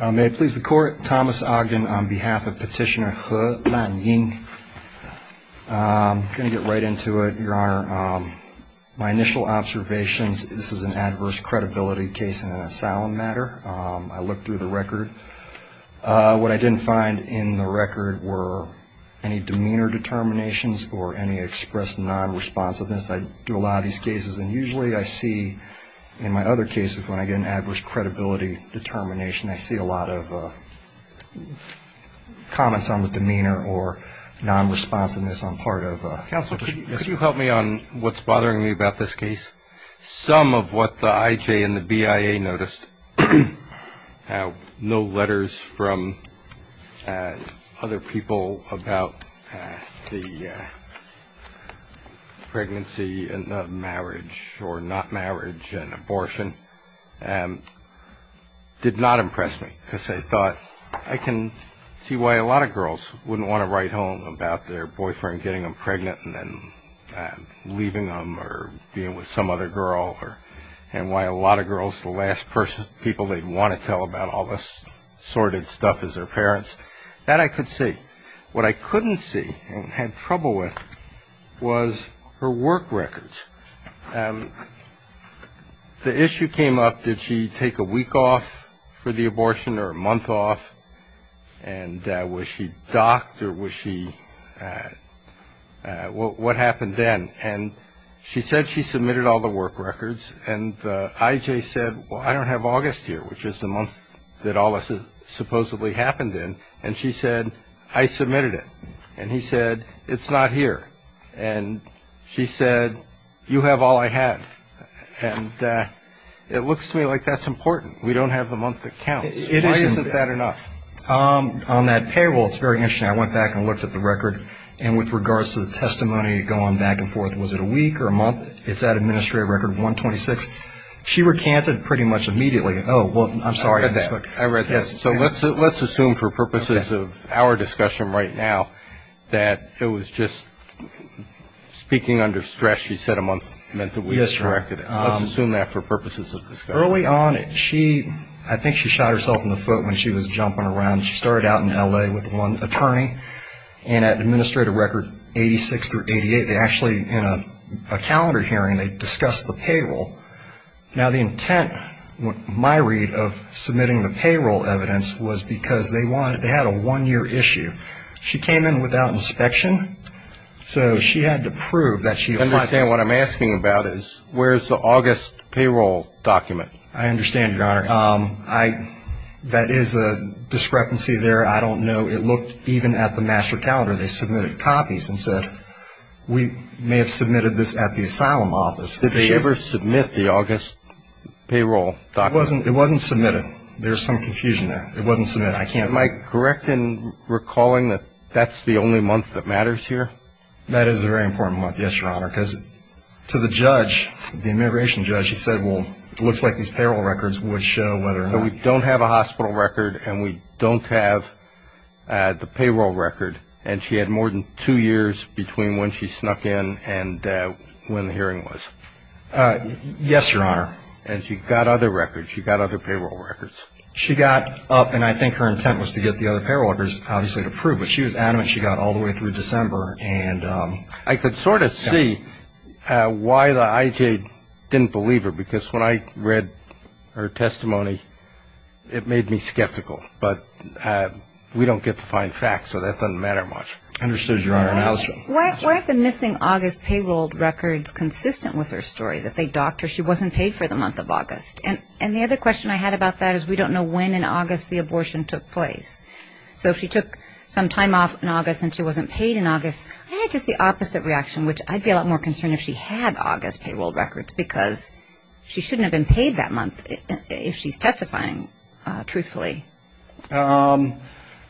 May it please the Court, Thomas Ogden on behalf of Petitioner He Lan Ying. I'm going to get right into it, Your Honor. My initial observations, this is an adverse credibility case in an asylum matter. I looked through the record. What I didn't find in the record were any demeanor determinations or any expressed nonresponsiveness. I do a lot of these cases, and usually I see in my other cases when I get an adverse credibility determination, I see a lot of comments on the demeanor or nonresponsiveness on part of the case. Counsel, could you help me on what's bothering me about this case? Some of what the IJ and the BIA noticed, no letters from other people about the pregnancy and the marriage or not marriage and abortion, did not impress me because I thought I can see why a lot of girls wouldn't want to write home about their boyfriend getting them pregnant and then leaving them or being with some other girl and why a lot of girls, the last people they'd want to tell about all this sordid stuff is their parents. That I could see. What I couldn't see and had trouble with was her work records. The issue came up, did she take a week off for the abortion or a month off, and was she docked or was she, what happened then? And she said she submitted all the work records, and the IJ said, well, I don't have August here, which is the month that all this supposedly happened in, and she said, I submitted it. And he said, it's not here. And she said, you have all I had. And it looks to me like that's important. We don't have the month that counts. Why isn't that enough? On that payroll, it's very interesting. I went back and looked at the record, and with regards to the testimony going back and forth, was it a week or a month, it's that administrative record, 126. She recanted pretty much immediately. Oh, well, I'm sorry. I read that. So let's assume for purposes of our discussion right now that it was just speaking under stress, she said a month meant that we corrected it. Let's assume that for purposes of discussion. Early on, I think she shot herself in the foot when she was jumping around. She started out in L.A. with one attorney. And at administrative record 86 through 88, they actually, in a calendar hearing, they discussed the payroll. Now, the intent, my read, of submitting the payroll evidence was because they had a one-year issue. She came in without inspection. So she had to prove that she owned this. I understand what I'm asking about is where is the August payroll document? I understand, Your Honor. That is a discrepancy there. I don't know. It looked even at the master calendar. They submitted copies and said, we may have submitted this at the asylum office. Did they ever submit the August payroll document? It wasn't submitted. There's some confusion there. It wasn't submitted. Am I correct in recalling that that's the only month that matters here? That is a very important month, yes, Your Honor, because to the judge, the immigration judge, he said, well, it looks like these payroll records would show whether or not. We don't have a hospital record, and we don't have the payroll record. And she had more than two years between when she snuck in and when the hearing was. Yes, Your Honor. And she got other records. She got other payroll records. She got up, and I think her intent was to get the other payroll records, obviously, to prove. But she was adamant she got all the way through December. I could sort of see why the IJ didn't believe her, because when I read her testimony, it made me skeptical. But we don't get to find facts, so that doesn't matter much. Understood, Your Honor. Why are the missing August payroll records consistent with her story, that they docked her? She wasn't paid for the month of August. And the other question I had about that is we don't know when in August the abortion took place. So if she took some time off in August and she wasn't paid in August, I had just the opposite reaction, which I'd be a lot more concerned if she had August payroll records, because she shouldn't have been paid that month if she's testifying truthfully.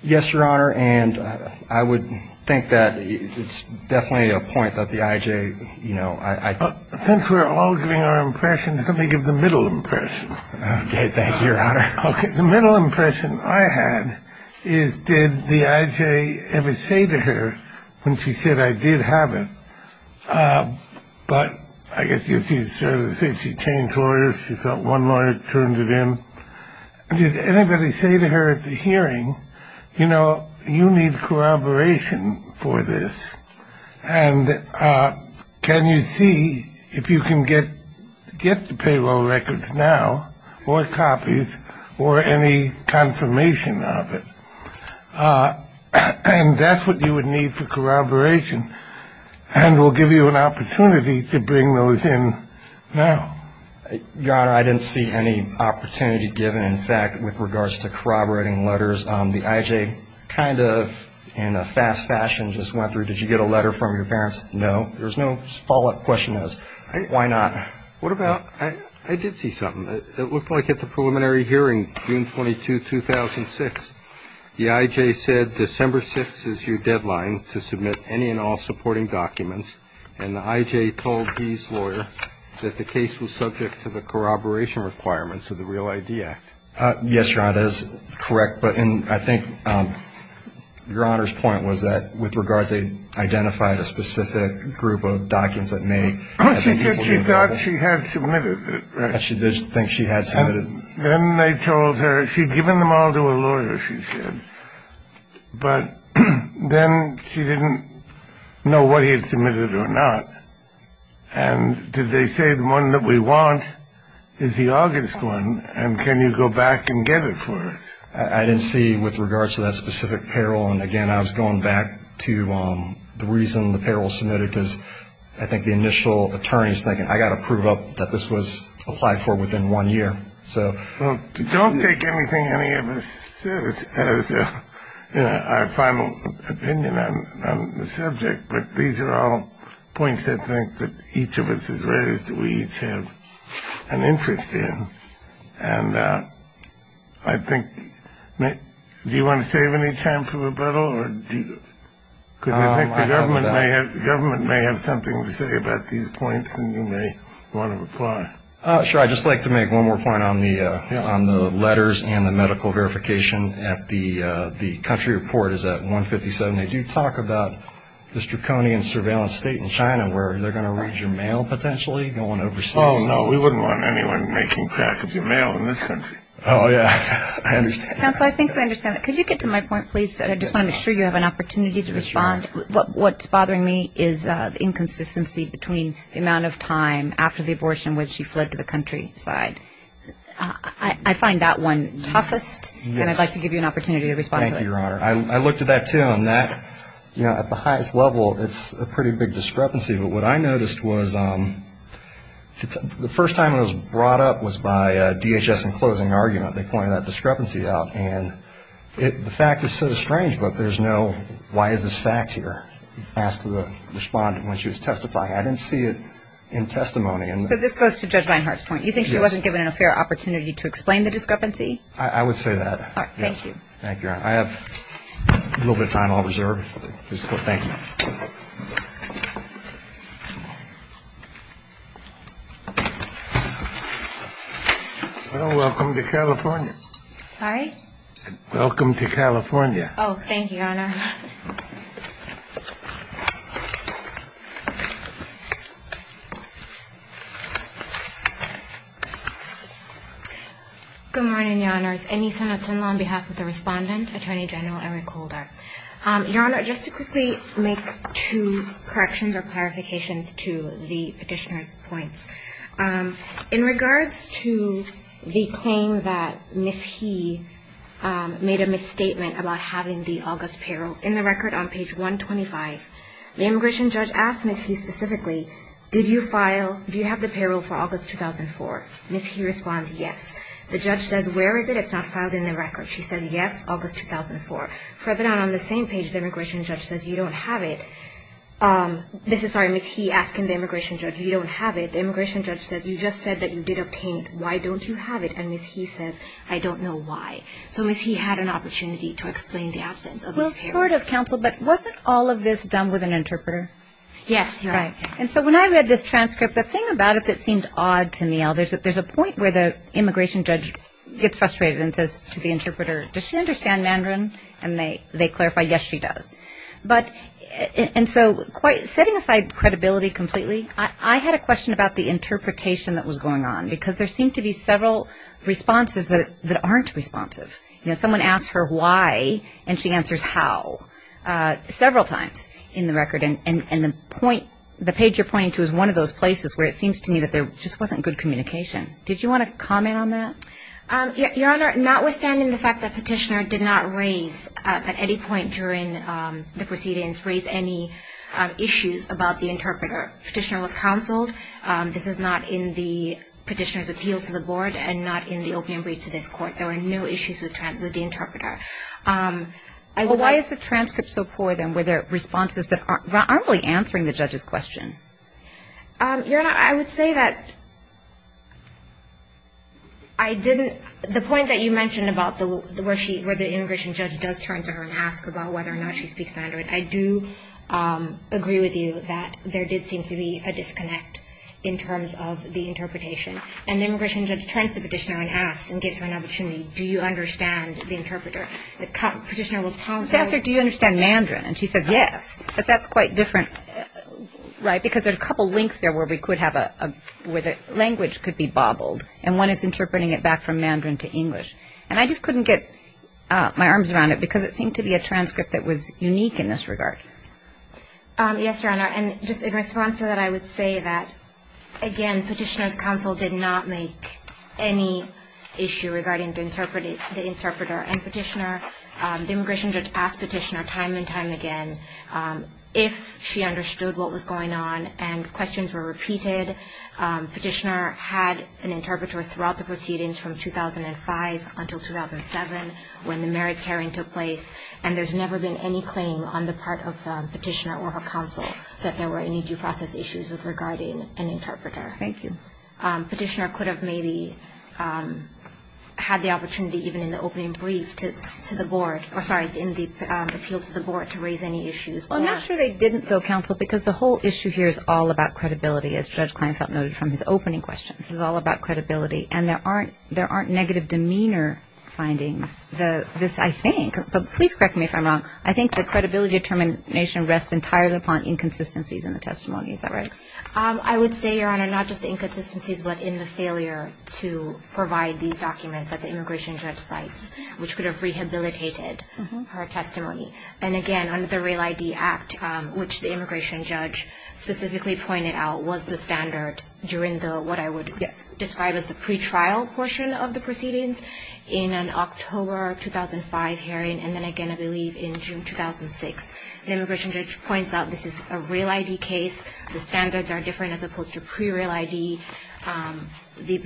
Yes, Your Honor, and I would think that it's definitely a point that the IJ, you know, I think. Since we're all giving our impressions, let me give the middle impression. Okay, thank you, Your Honor. Okay, the middle impression I had is did the IJ ever say to her when she said, I did have it, but I guess you could say she changed lawyers. She thought one lawyer turned it in. Did anybody say to her at the hearing, you know, you need corroboration for this, and can you see if you can get the payroll records now or copies or any confirmation of it? And that's what you would need for corroboration, and we'll give you an opportunity to bring those in now. Your Honor, I didn't see any opportunity given. In fact, with regards to corroborating letters, the IJ kind of in a fast fashion just went through, did you get a letter from your parents? No. There's no follow-up question as to why not. What about, I did see something. It looked like at the preliminary hearing, June 22, 2006, the IJ said December 6 is your deadline to submit any and all supporting documents, and the IJ told these lawyers that the case was subject to the corroboration requirements of the Real ID Act. Yes, Your Honor, that is correct, but I think Your Honor's point was that with regards to identifying a specific group of documents that may have been easily corroborated. She said she thought she had submitted it, right? She did think she had submitted it. Then they told her she'd given them all to a lawyer, she said, but then she didn't know what he had submitted or not. And did they say the one that we want is the August one, and can you go back and get it for us? I didn't see with regards to that specific payroll, and again, I was going back to the reason the payroll was submitted because I think the initial attorney's thinking, I've got to prove up that this was applied for within one year. Don't take anything any of us says as our final opinion on the subject, but these are all points I think that each of us has raised that we each have an interest in, and I think do you want to save any time for rebuttal? Because I think the government may have something to say about these points, and you may want to reply. Sure. I'd just like to make one more point on the letters and the medical verification. The country report is at 157. They do talk about the draconian surveillance state in China where they're going to read your mail potentially going overseas. Oh, no. We wouldn't want anyone making crack of your mail in this country. Oh, yeah. I understand. Counsel, I think we understand that. Could you get to my point, please? I just want to make sure you have an opportunity to respond. What's bothering me is the inconsistency between the amount of time after the abortion when she fled to the countryside. I find that one toughest, and I'd like to give you an opportunity to respond to that. Thank you, Your Honor. I looked at that, too, and that, you know, at the highest level, it's a pretty big discrepancy, but what I noticed was the first time it was brought up was by DHS in closing argument. They pointed that discrepancy out, and the fact is so strange, but there's no why is this fact here? I asked the respondent when she was testifying. I didn't see it in testimony. So this goes to Judge Reinhart's point. You think she wasn't given a fair opportunity to explain the discrepancy? I would say that. All right. Thank you. Thank you, Your Honor. I have a little bit of time on reserve. Thank you. Well, welcome to California. Sorry? Welcome to California. Oh, thank you, Your Honor. Good morning, Your Honors. Annie Sanatana on behalf of the respondent, Attorney General Eric Holder. Your Honor, just to quickly make two corrections or clarifications to the Petitioner's points. In regards to the claim that Ms. He made a misstatement about having the August payrolls in the record on page 125, the immigration judge asked Ms. He specifically, did you file, do you have the payroll for August 2004? Ms. He responds, yes. The judge says, where is it? It's not filed in the record. She says, yes, August 2004. Further down on the same page, the immigration judge says, you don't have it. This is, sorry, Ms. He asking the immigration judge, you don't have it. The immigration judge says, you just said that you did obtain it. Why don't you have it? And Ms. He says, I don't know why. So Ms. He had an opportunity to explain the absence of the payroll. Well, short of counsel, but wasn't all of this done with an interpreter? Yes, Your Honor. Right. And so when I read this transcript, the thing about it that seemed odd to me, there's a point where the immigration judge gets frustrated and says to the interpreter, does she understand Mandarin? And they clarify, yes, she does. But, and so quite, setting aside credibility completely, I had a question about the interpretation that was going on, because there seemed to be several responses that aren't responsive. You know, someone asked her why, and she answers how, several times in the record. And the point, the page you're pointing to is one of those places where it seems to me that there just wasn't good communication. Did you want to comment on that? Your Honor, notwithstanding the fact that Petitioner did not raise, at any point during the proceedings, raise any issues about the interpreter. Petitioner was counseled. This is not in the Petitioner's appeal to the board and not in the opening brief to this Court. There were no issues with the interpreter. Well, why is the transcript so poor, then? Were there responses that aren't really answering the judge's question? Your Honor, I would say that I didn't, the point that you mentioned about where the immigration judge does turn to her and ask about whether or not she speaks Mandarin, I do agree with you that there did seem to be a disconnect in terms of the interpretation. And the immigration judge turns to Petitioner and asks and gives her an opportunity, do you understand the interpreter? Petitioner was counseled. She asked her, do you understand Mandarin? And she says, yes. But that's quite different. Right, because there are a couple links there where we could have a, where the language could be bobbled. And one is interpreting it back from Mandarin to English. And I just couldn't get my arms around it because it seemed to be a transcript that was unique in this regard. Yes, Your Honor. And just in response to that, I would say that, again, Petitioner's counsel did not make any issue regarding the interpreter. And Petitioner, the immigration judge asked Petitioner time and time again if she understood what was going on and questions were repeated. Petitioner had an interpreter throughout the proceedings from 2005 until 2007 when the merits hearing took place. And there's never been any claim on the part of Petitioner or her counsel that there were any due process issues regarding an interpreter. Thank you. Petitioner could have maybe had the opportunity even in the opening brief to the board, or sorry, in the appeal to the board to raise any issues. Well, I'm not sure they didn't, though, counsel, because the whole issue here is all about credibility, as Judge Kleinfeld noted from his opening question. This is all about credibility. And there aren't negative demeanor findings. This, I think, but please correct me if I'm wrong, I think the credibility determination rests entirely upon inconsistencies in the testimony. Is that right? I would say, Your Honor, not just inconsistencies, but in the failure to provide these documents at the immigration judge sites, which could have rehabilitated her testimony. And, again, under the Real ID Act, which the immigration judge specifically pointed out, was the standard during what I would describe as the pretrial portion of the proceedings in an October 2005 hearing, and then again, I believe, in June 2006. The immigration judge points out this is a Real ID case. The standards are different as opposed to pre-Real ID. The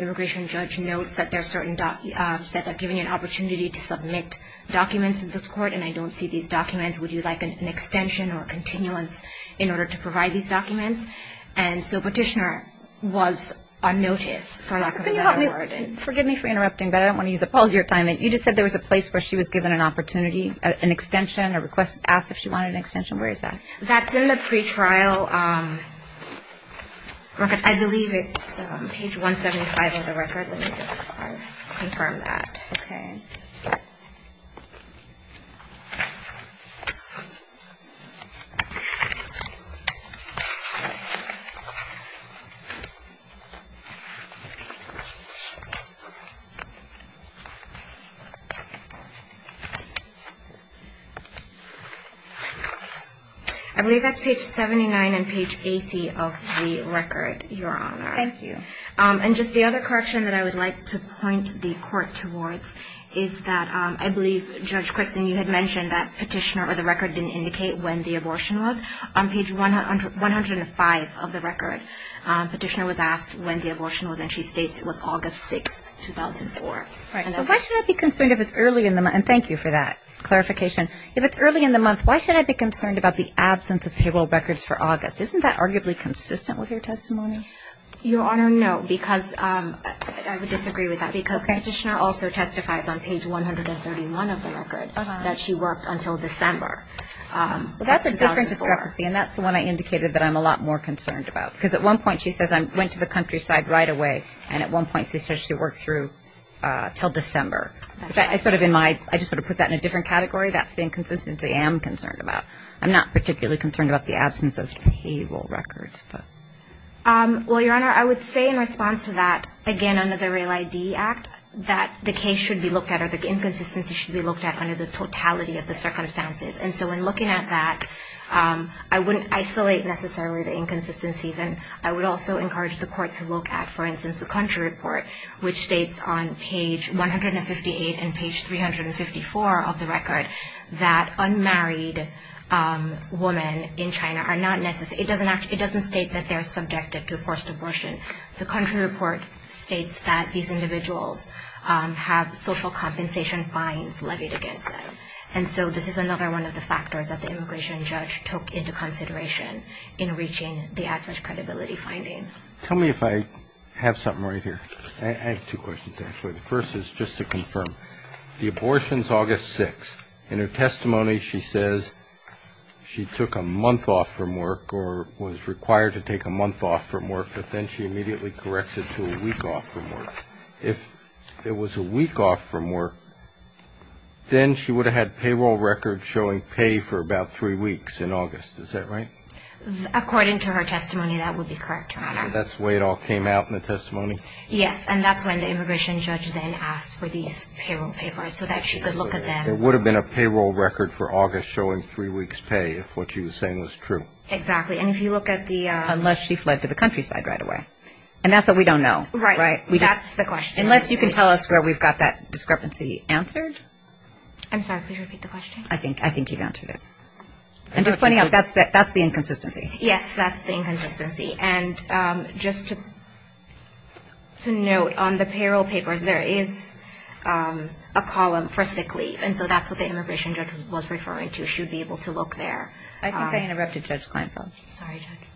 immigration judge notes that certain sites are giving you an opportunity to submit documents in this court, and I don't see these documents. Would you like an extension or continuance in order to provide these documents? And so Petitioner was unnoticed, for lack of a better word. Forgive me for interrupting, but I don't want to use up all your time. You just said there was a place where she was given an opportunity, an extension, a request to ask if she wanted an extension. Where is that? That's in the pretrial. I believe it's page 175 of the record. Let me just confirm that. Okay. I believe that's page 79 and page 80 of the record, Your Honor. Thank you. And just the other correction that I would like to point the court towards is that I believe, Judge Christin, you had mentioned that Petitioner or the record didn't indicate when the abortion was. On page 105 of the record, Petitioner was asked when the abortion was, and she states it was August 6, 2004. So why should I be concerned if it's early in the month? And thank you for that clarification. If it's early in the month, why should I be concerned about the absence of payroll records for August? Isn't that arguably consistent with your testimony? Your Honor, no, because I would disagree with that, because Petitioner also testifies on page 131 of the record that she worked until December. But that's a different discrepancy, and that's the one I indicated that I'm a lot more concerned about. Because at one point she says I went to the countryside right away, and at one point she says she worked through until December. I just sort of put that in a different category. That's the inconsistency I am concerned about. I'm not particularly concerned about the absence of payroll records. Well, Your Honor, I would say in response to that, again, under the Real ID Act, that the case should be looked at or the inconsistency should be looked at under the totality of the circumstances. And so in looking at that, I wouldn't isolate necessarily the inconsistencies. And I would also encourage the court to look at, for instance, the country report, which states on page 158 and page 354 of the record that unmarried women in China are not necessary. It doesn't state that they're subjected to forced abortion. The country report states that these individuals have social compensation fines levied against them. And so this is another one of the factors that the immigration judge took into consideration in reaching the average credibility finding. Tell me if I have something right here. I have two questions, actually. The first is just to confirm. The abortion is August 6th. In her testimony, she says she took a month off from work or was required to take a month off from work, but then she immediately corrects it to a week off from work. If it was a week off from work, then she would have had payroll records showing pay for about three weeks in August. Is that right? According to her testimony, that would be correct, Your Honor. That's the way it all came out in the testimony? Yes, and that's when the immigration judge then asked for these payroll papers so that she could look at them. It would have been a payroll record for August showing three weeks' pay if what she was saying was true. Exactly. And if you look at the ‑‑ Unless she fled to the countryside right away. And that's what we don't know, right? Right. That's the question. Unless you can tell us where we've got that discrepancy answered. I'm sorry, please repeat the question. I think you've answered it. And just pointing out, that's the inconsistency. Yes, that's the inconsistency. And just to note, on the payroll papers, there is a column for sick leave. And so that's what the immigration judge was referring to. She would be able to look there. I think I interrupted Judge Kleinfeld. Sorry, Judge.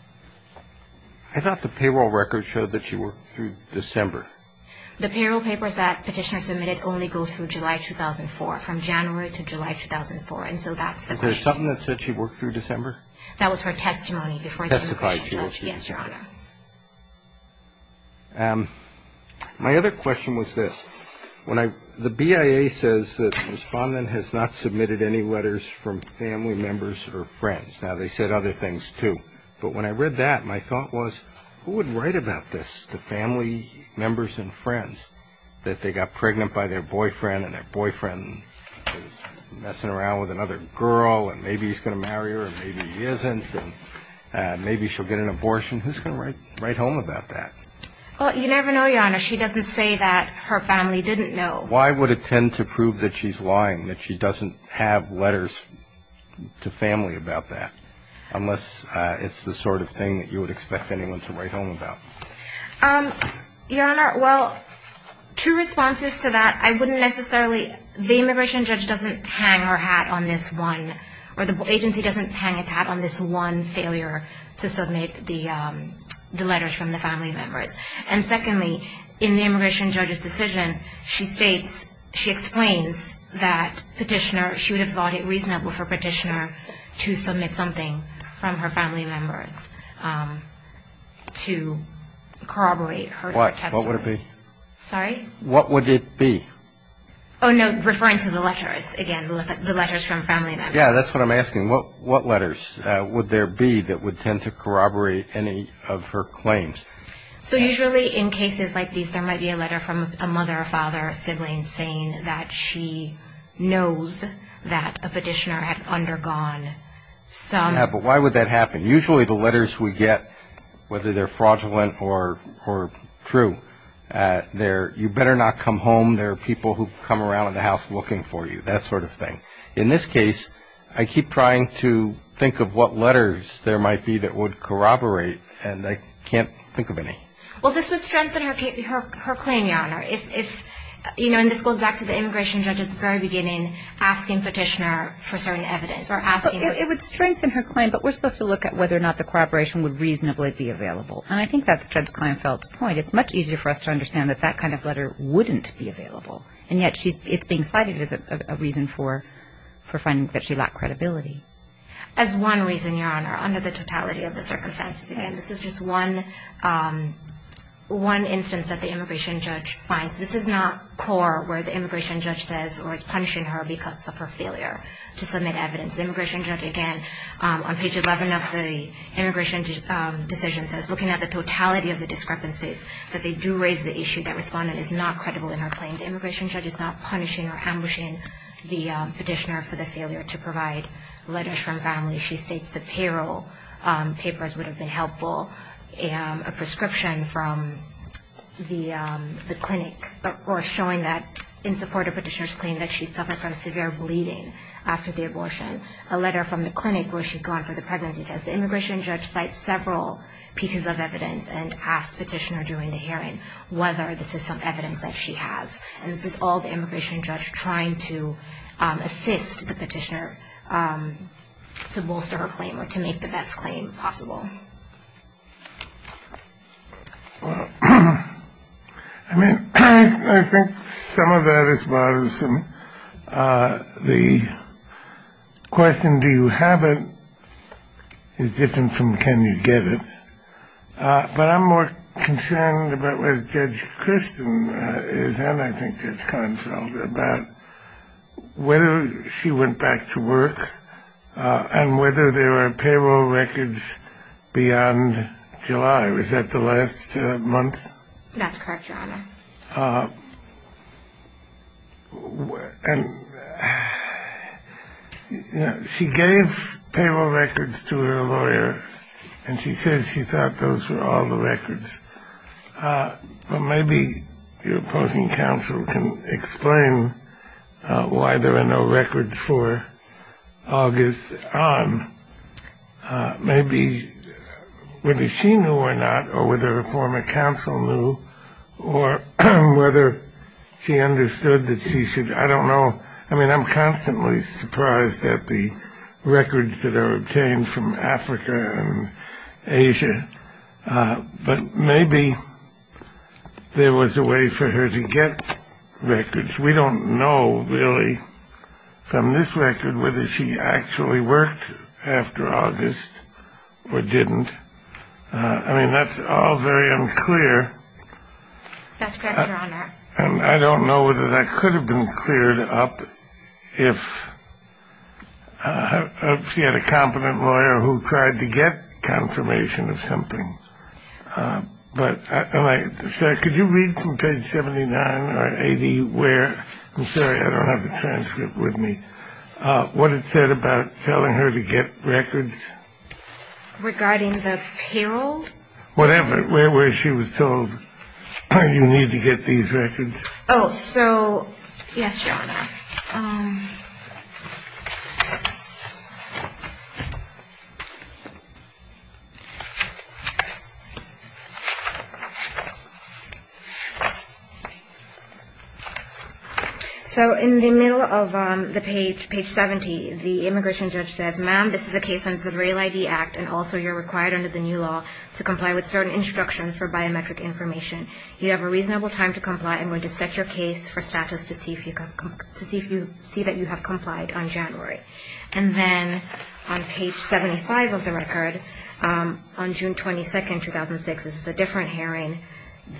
I thought the payroll records showed that she worked through December. The payroll papers that Petitioner submitted only go through July 2004, from January to July 2004. And so that's the question. Is there something that said she worked through December? That was her testimony before the immigration judge. Yes, Your Honor. My other question was this. The BIA says that the respondent has not submitted any letters from family members or friends. Now, they said other things, too. But when I read that, my thought was, who would write about this to family members and friends, that they got pregnant by their boyfriend and their boyfriend is messing around with another girl and maybe he's going to marry her and maybe he isn't and maybe she'll get an abortion. Who's going to write home about that? Well, you never know, Your Honor. She doesn't say that her family didn't know. Why would it tend to prove that she's lying, that she doesn't have letters to family about that, unless it's the sort of thing that you would expect anyone to write home about? Your Honor, well, two responses to that. I wouldn't necessarily the immigration judge doesn't hang her hat on this one or the agency doesn't hang its hat on this one failure to submit the letters from the family members. And secondly, in the immigration judge's decision, she states, she explains that petitioner, she would have thought it reasonable for petitioner to submit something from her family members to corroborate her testimony. What would it be? Sorry? What would it be? Oh, no, referring to the letters, again, the letters from family members. Yeah, that's what I'm asking. What letters would there be that would tend to corroborate any of her claims? So usually in cases like these, there might be a letter from a mother, a father, a sibling saying that she knows that a petitioner had undergone some. Yeah, but why would that happen? Usually the letters we get, whether they're fraudulent or true, you better not come home. There are people who come around the house looking for you, that sort of thing. In this case, I keep trying to think of what letters there might be that would corroborate, and I can't think of any. Well, this would strengthen her claim, Your Honor. If, you know, and this goes back to the immigration judge at the very beginning asking petitioner for certain evidence or asking. It would strengthen her claim, but we're supposed to look at whether or not the corroboration would reasonably be available. And I think that's Judge Kleinfeld's point. It's much easier for us to understand that that kind of letter wouldn't be available. And yet it's being cited as a reason for finding that she lacked credibility. As one reason, Your Honor, under the totality of the circumstances. Again, this is just one instance that the immigration judge finds. This is not core where the immigration judge says or is punishing her because of her failure to submit evidence. The immigration judge, again, on page 11 of the immigration decision says, looking at the totality of the discrepancies, that they do raise the issue that Respondent is not credible in her claim. The immigration judge is not punishing or ambushing the petitioner for the failure to provide letters from family. She states the payroll papers would have been helpful, a prescription from the clinic, or showing that in support of petitioner's claim that she'd suffered from severe bleeding after the abortion. A letter from the clinic where she'd gone for the pregnancy test. The immigration judge cites several pieces of evidence and asks petitioner during the hearing whether this is some evidence that she has. And this is all the immigration judge trying to assist the petitioner to bolster her claim or to make the best claim possible. Well, I mean, I think some of that is partisan. The question, do you have it, is different from can you get it. But I'm more concerned about what Judge Christen is and I think Judge Kahnfeld about whether she went back to work and whether there were payroll records beyond July. Was that the last month? That's correct, Your Honor. And she gave payroll records to her lawyer and she says she thought those were all the records. But maybe your opposing counsel can explain why there are no records for August on. Maybe whether she knew or not or whether her former counsel knew or whether she understood that she should, I don't know. I mean, I'm constantly surprised at the records that are obtained from Africa and Asia. But maybe there was a way for her to get records. We don't know really from this record whether she actually worked after August or didn't. I mean, that's all very unclear. And I don't know whether that could have been cleared up if she had a competent lawyer who tried to get confirmation of something. But could you read from page 79 or 80 where, I'm sorry, I don't have the transcript with me, what it said about telling her to get records? Regarding the payroll? Whatever, where she was told you need to get these records. Oh, so, yes, Your Honor. So in the middle of the page, page 70, the immigration judge says, ma'am, this is a case under the Rail ID Act and also you're required under the new law to comply with certain instructions for biometric information. You have a reasonable time to comply. I'm going to set your case for status to see that you have complied on January. And then on page 75 of the record, on June 22, 2006, this is a different hearing.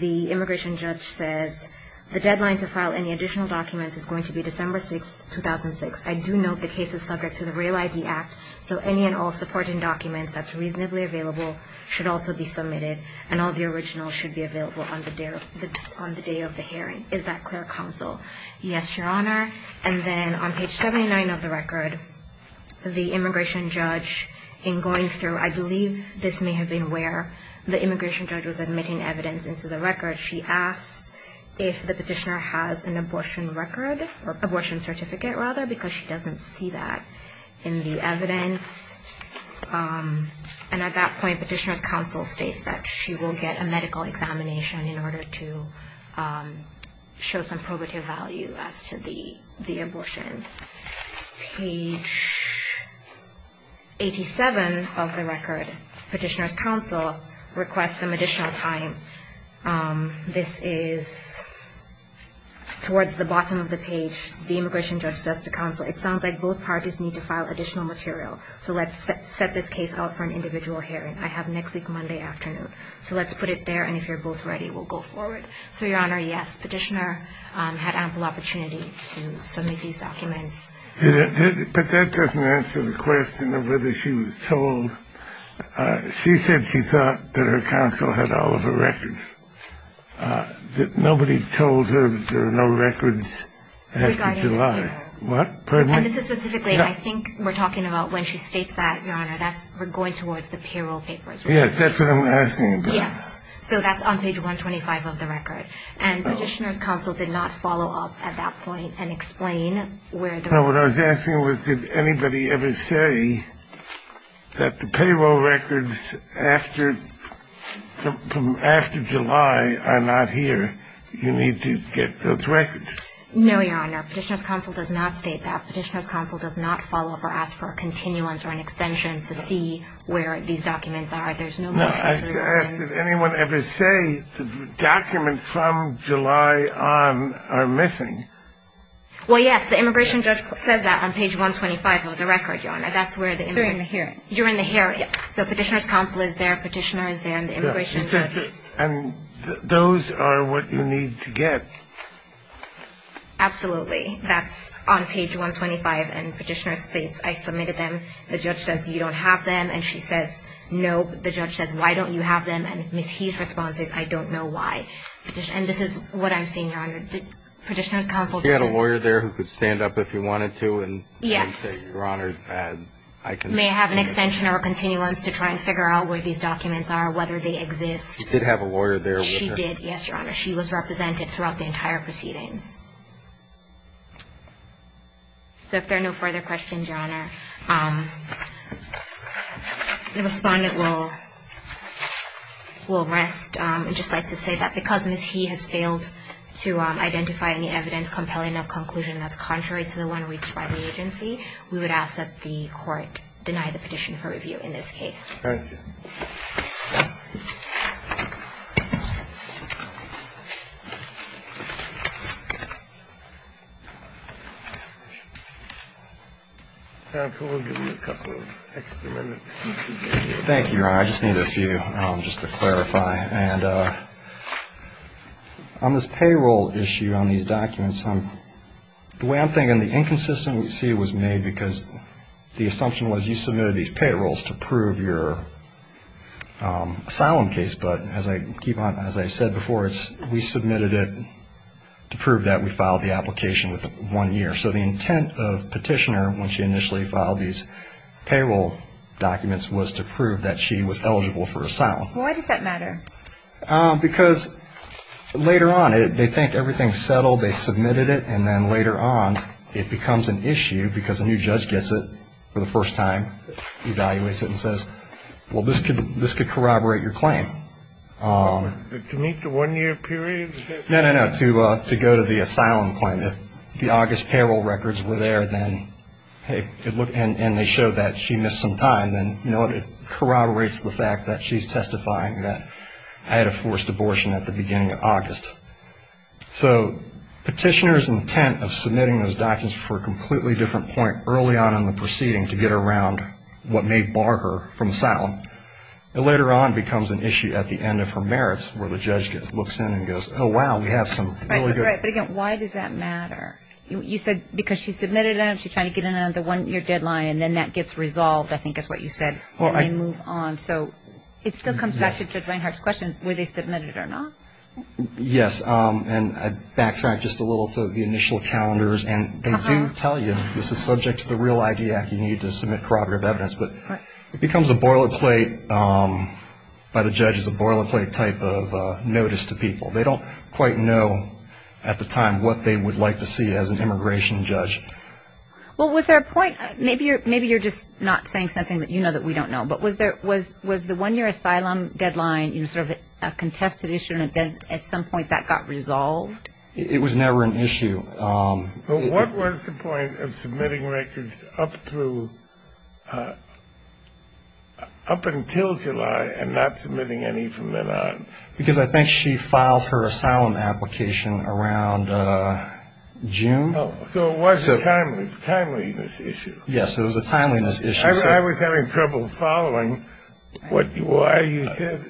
The immigration judge says, the deadline to file any additional documents is going to be December 6, 2006. I do note the case is subject to the Rail ID Act, so any and all supporting documents that's reasonably available should also be submitted and all the originals should be available on the day of the hearing. Is that clear, counsel? Yes, Your Honor. And then on page 79 of the record, the immigration judge, in going through, I believe this may have been where the immigration judge was admitting evidence into the record, she asks if the petitioner has an abortion record or abortion certificate, rather, because she doesn't see that in the evidence. And at that point, petitioner's counsel states that she will get a medical examination in order to show some probative value as to the abortion. Page 87 of the record, petitioner's counsel requests some additional time. This is towards the bottom of the page. The immigration judge says to counsel, it sounds like both parties need to file additional material, so let's set this case out for an individual hearing. I have next week, Monday afternoon. So let's put it there, and if you're both ready, we'll go forward. So, Your Honor, yes, petitioner had ample opportunity to submit these documents. But that doesn't answer the question of whether she was told. She said she thought that her counsel had all of her records. Nobody told her that there were no records after July. Regarding the paper. What? Pardon me? I think we're talking about when she states that, Your Honor. We're going towards the payroll papers. Yes, that's what I'm asking about. Yes. So that's on page 125 of the record. And petitioner's counsel did not follow up at that point and explain where the records were. No, what I was asking was, did anybody ever say that the payroll records after July are not here? You need to get those records. No, Your Honor. Petitioner's counsel does not state that. Petitioner's counsel does not follow up or ask for a continuance or an extension to see where these documents are. There's no need to report. No, I asked, did anyone ever say the documents from July on are missing? Well, yes, the immigration judge says that on page 125 of the record, Your Honor. That's where the immigration judge. They're in the hearing. You're in the hearing. So petitioner's counsel is there, petitioner is there, and the immigration judge. And those are what you need to get. Absolutely. That's on page 125. And petitioner states, I submitted them. The judge says, you don't have them. And she says, nope. The judge says, why don't you have them? And Ms. He's response is, I don't know why. And this is what I'm seeing, Your Honor. Petitioner's counsel. Did you have a lawyer there who could stand up if you wanted to and say, Your Honor, I can. Yes. May I have an extension or a continuance to try and figure out where these documents are, whether they exist. You did have a lawyer there. She did, yes, Your Honor. She was represented throughout the entire proceedings. So if there are no further questions, Your Honor, the respondent will rest and just like to say that because Ms. He has failed to identify any evidence compelling a conclusion that's contrary to the one reached by the agency, we would ask that the court deny the petition for review in this case. Thank you. Counsel, we'll give you a couple of extra minutes. Thank you, Your Honor. I just need a few just to clarify. And on this payroll issue on these documents, the way I'm thinking, again, the inconsistency was made because the assumption was you submitted these payrolls to prove your asylum case. But as I said before, we submitted it to prove that we filed the application within one year. So the intent of Petitioner when she initially filed these payroll documents was to prove that she was eligible for asylum. Why does that matter? Because later on they think everything's settled, they submitted it, and then later on it becomes an issue because a new judge gets it for the first time, evaluates it and says, well, this could corroborate your claim. To meet the one-year period? No, no, no, to go to the asylum claim. And if the August payroll records were there and they showed that she missed some time, then it corroborates the fact that she's testifying that I had a forced abortion at the beginning of August. So Petitioner's intent of submitting those documents for a completely different point early on in the proceeding to get around what may bar her from asylum, it later on becomes an issue at the end of her merits where the judge looks in and goes, oh, wow, we have some really good... Right, right, but again, why does that matter? You said because she submitted it and she's trying to get another one-year deadline and then that gets resolved, I think is what you said, and they move on. So it still comes back to Judge Reinhart's question, were they submitted or not? Yes, and I backtracked just a little to the initial calendars, and they do tell you, this is subject to the Real ID Act, you need to submit corroborative evidence, but it becomes a boilerplate by the judges, a boilerplate type of notice to people. They don't quite know at the time what they would like to see as an immigration judge. Well, was there a point, maybe you're just not saying something that you know that we don't know, but was the one-year asylum deadline sort of a contested issue and then at some point that got resolved? It was never an issue. But what was the point of submitting records up through, up until July and not submitting any from then on? Because I think she filed her asylum application around June. So it was a timeliness issue. Yes, it was a timeliness issue. I was having trouble following why you said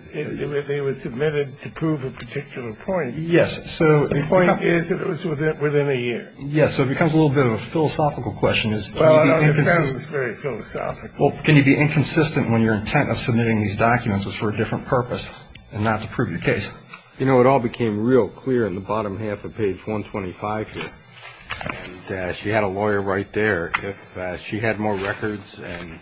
they were submitted to prove a particular point. Yes. The point is that it was within a year. Yes, so it becomes a little bit of a philosophical question. Well, can you be inconsistent when your intent of submitting these documents was for a different purpose and not to prove the case? You know, it all became real clear in the bottom half of page 125 here. She had a lawyer right there. If she had more records and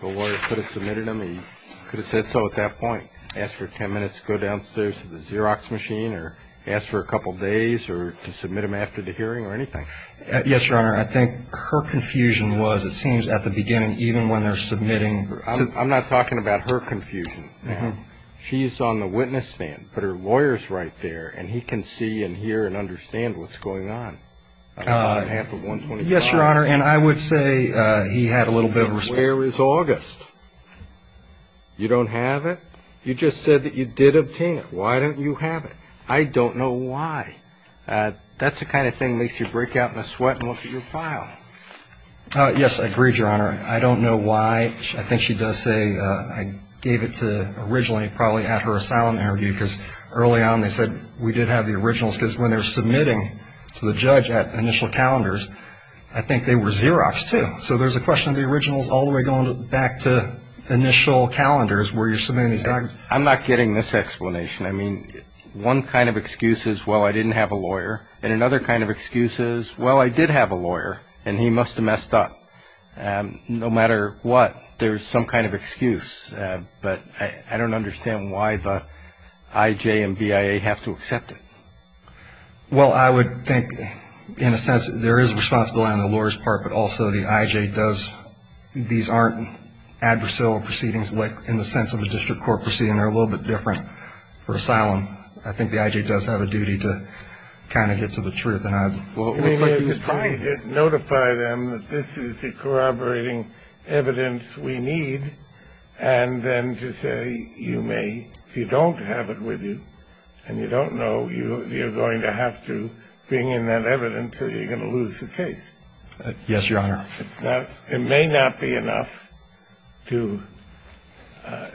the lawyer could have submitted them, he could have said so at that point, asked for 10 minutes to go downstairs to the Xerox machine or asked for a couple days or to submit them after the hearing or anything. Yes, Your Honor, I think her confusion was, it seems, at the beginning, even when they're submitting. I'm not talking about her confusion. She's on the witness stand, but her lawyer's right there, and he can see and hear and understand what's going on. Yes, Your Honor, and I would say he had a little bit of respect. Where is August? You don't have it? You just said that you did obtain it. Why don't you have it? I don't know why. That's the kind of thing that makes you break out in a sweat and look at your file. Yes, I agree, Your Honor. I don't know why. I think she does say I gave it to originally probably at her asylum interview because early on they said we did have the originals because when they were submitting to the judge at initial calendars, I think they were Xeroxed, too. So there's a question of the originals all the way going back to initial calendars where you're submitting these documents. I'm not getting this explanation. I mean, one kind of excuse is, well, I didn't have a lawyer, and another kind of excuse is, well, I did have a lawyer, and he must have messed up. No matter what, there's some kind of excuse. But I don't understand why the IJ and BIA have to accept it. Well, I would think in a sense there is responsibility on the lawyer's part, but also the IJ does these aren't adversarial proceedings in the sense of a district court proceeding. They're a little bit different for asylum. I think the IJ does have a duty to kind of get to the truth. Notify them that this is the corroborating evidence we need, and then to say you may, if you don't have it with you and you don't know, you're going to have to bring in that evidence or you're going to lose the case. Yes, Your Honor. Now, it may not be enough to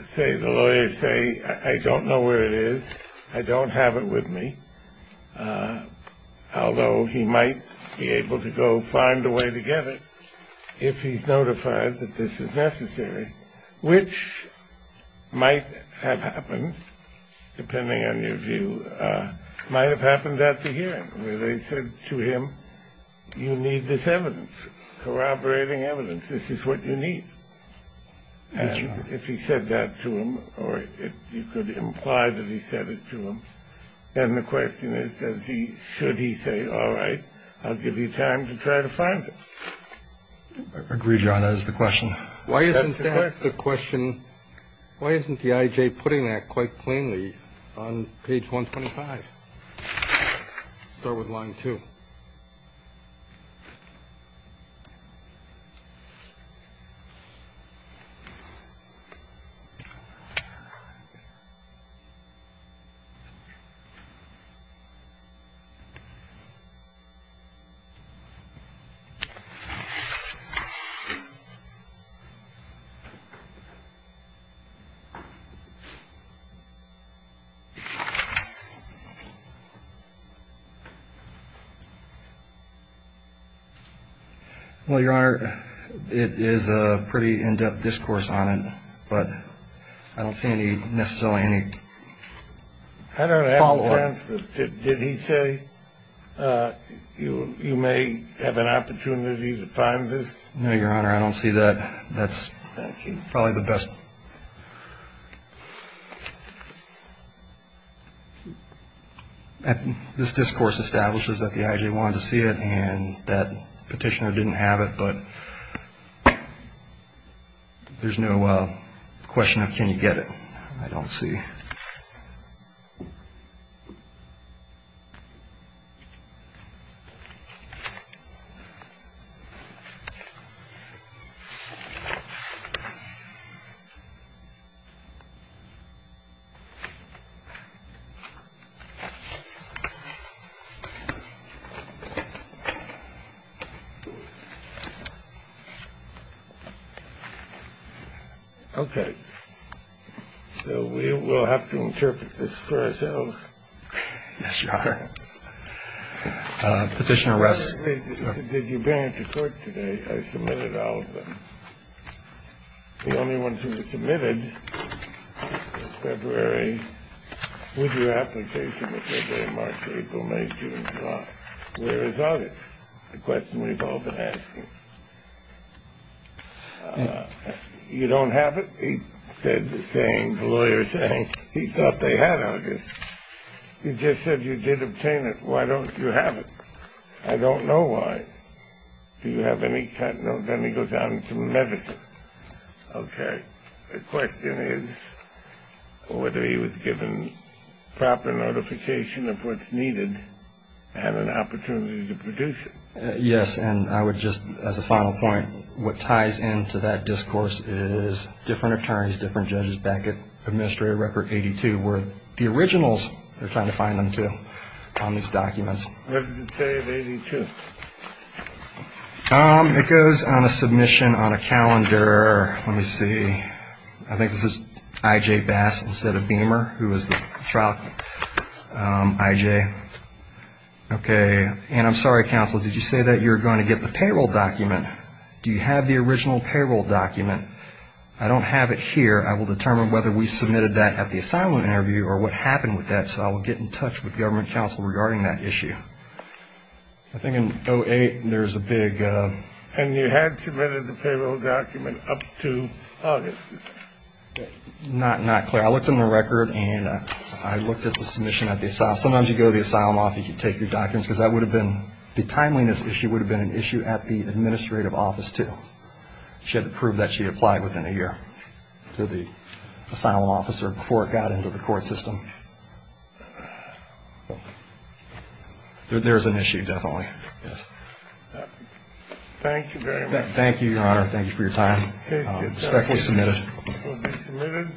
say the lawyer say, I don't know where it is, I don't have it with me, although he might be able to go find a way to get it if he's notified that this is necessary, which might have happened, depending on your view, might have happened at the hearing where they said to him, you need this evidence, corroborating evidence. This is what you need. Yes, Your Honor. And if he said that to him, or you could imply that he said it to him, then the question is does he, should he say, all right, I'll give you time to try to find it? Agreed, Your Honor. That is the question. Why isn't that the question? Why isn't the IJ putting that quite plainly on page 125? Start with line two. Line two. Well, Your Honor, it is a pretty in-depth discourse on it, but I don't see any necessarily any follow-up. I don't have the transcript. Did he say you may have an opportunity to find this? No, Your Honor, I don't see that. That's probably the best. This discourse establishes that the IJ wanted to see it, and that petitioner didn't have it, but there's no question of can you get it, I don't see. Okay. So we will have to interpret this for ourselves. Yes, Your Honor. Petitioner Ress. Did you bring it to court today? I submitted all of them. The only ones that were submitted was February. Would your application for February, March, April, May, June, and July? Where is August? The question we've all been asking. You don't have it? The lawyer said he thought they had August. You just said you did obtain it. Why don't you have it? I don't know why. Do you have any cut? No, then he goes on to medicine. Okay. The question is whether he was given proper notification of what's needed and an opportunity to produce it. Yes, and I would just, as a final point, what ties into that discourse is different attorneys, different judges back at Administrator Record 82 were the originals they're trying to find them to on these documents. What does it say of 82? It goes on a submission on a calendar. Let me see. I think this is I.J. Bass instead of Beamer, who was the trial I.J. Okay. And I'm sorry, Counsel, did you say that you were going to get the payroll document? Do you have the original payroll document? I don't have it here. I will determine whether we submitted that at the asylum interview or what happened with that, so I will get in touch with government counsel regarding that issue. I think in 08, there's a big ‑‑ And you had submitted the payroll document up to August. Not clear. I looked in the record, and I looked at the submission at the asylum. Sometimes you go to the asylum office, you take your documents, because that would have been ‑‑ the timeliness issue would have been an issue at the administrative office, too. She had to prove that she had applied within a year to the asylum officer before it got into the court system. There is an issue, definitely, yes. Thank you very much. Thank you, Your Honor. Thank you for your time. Respectfully submitted. Respectfully submitted.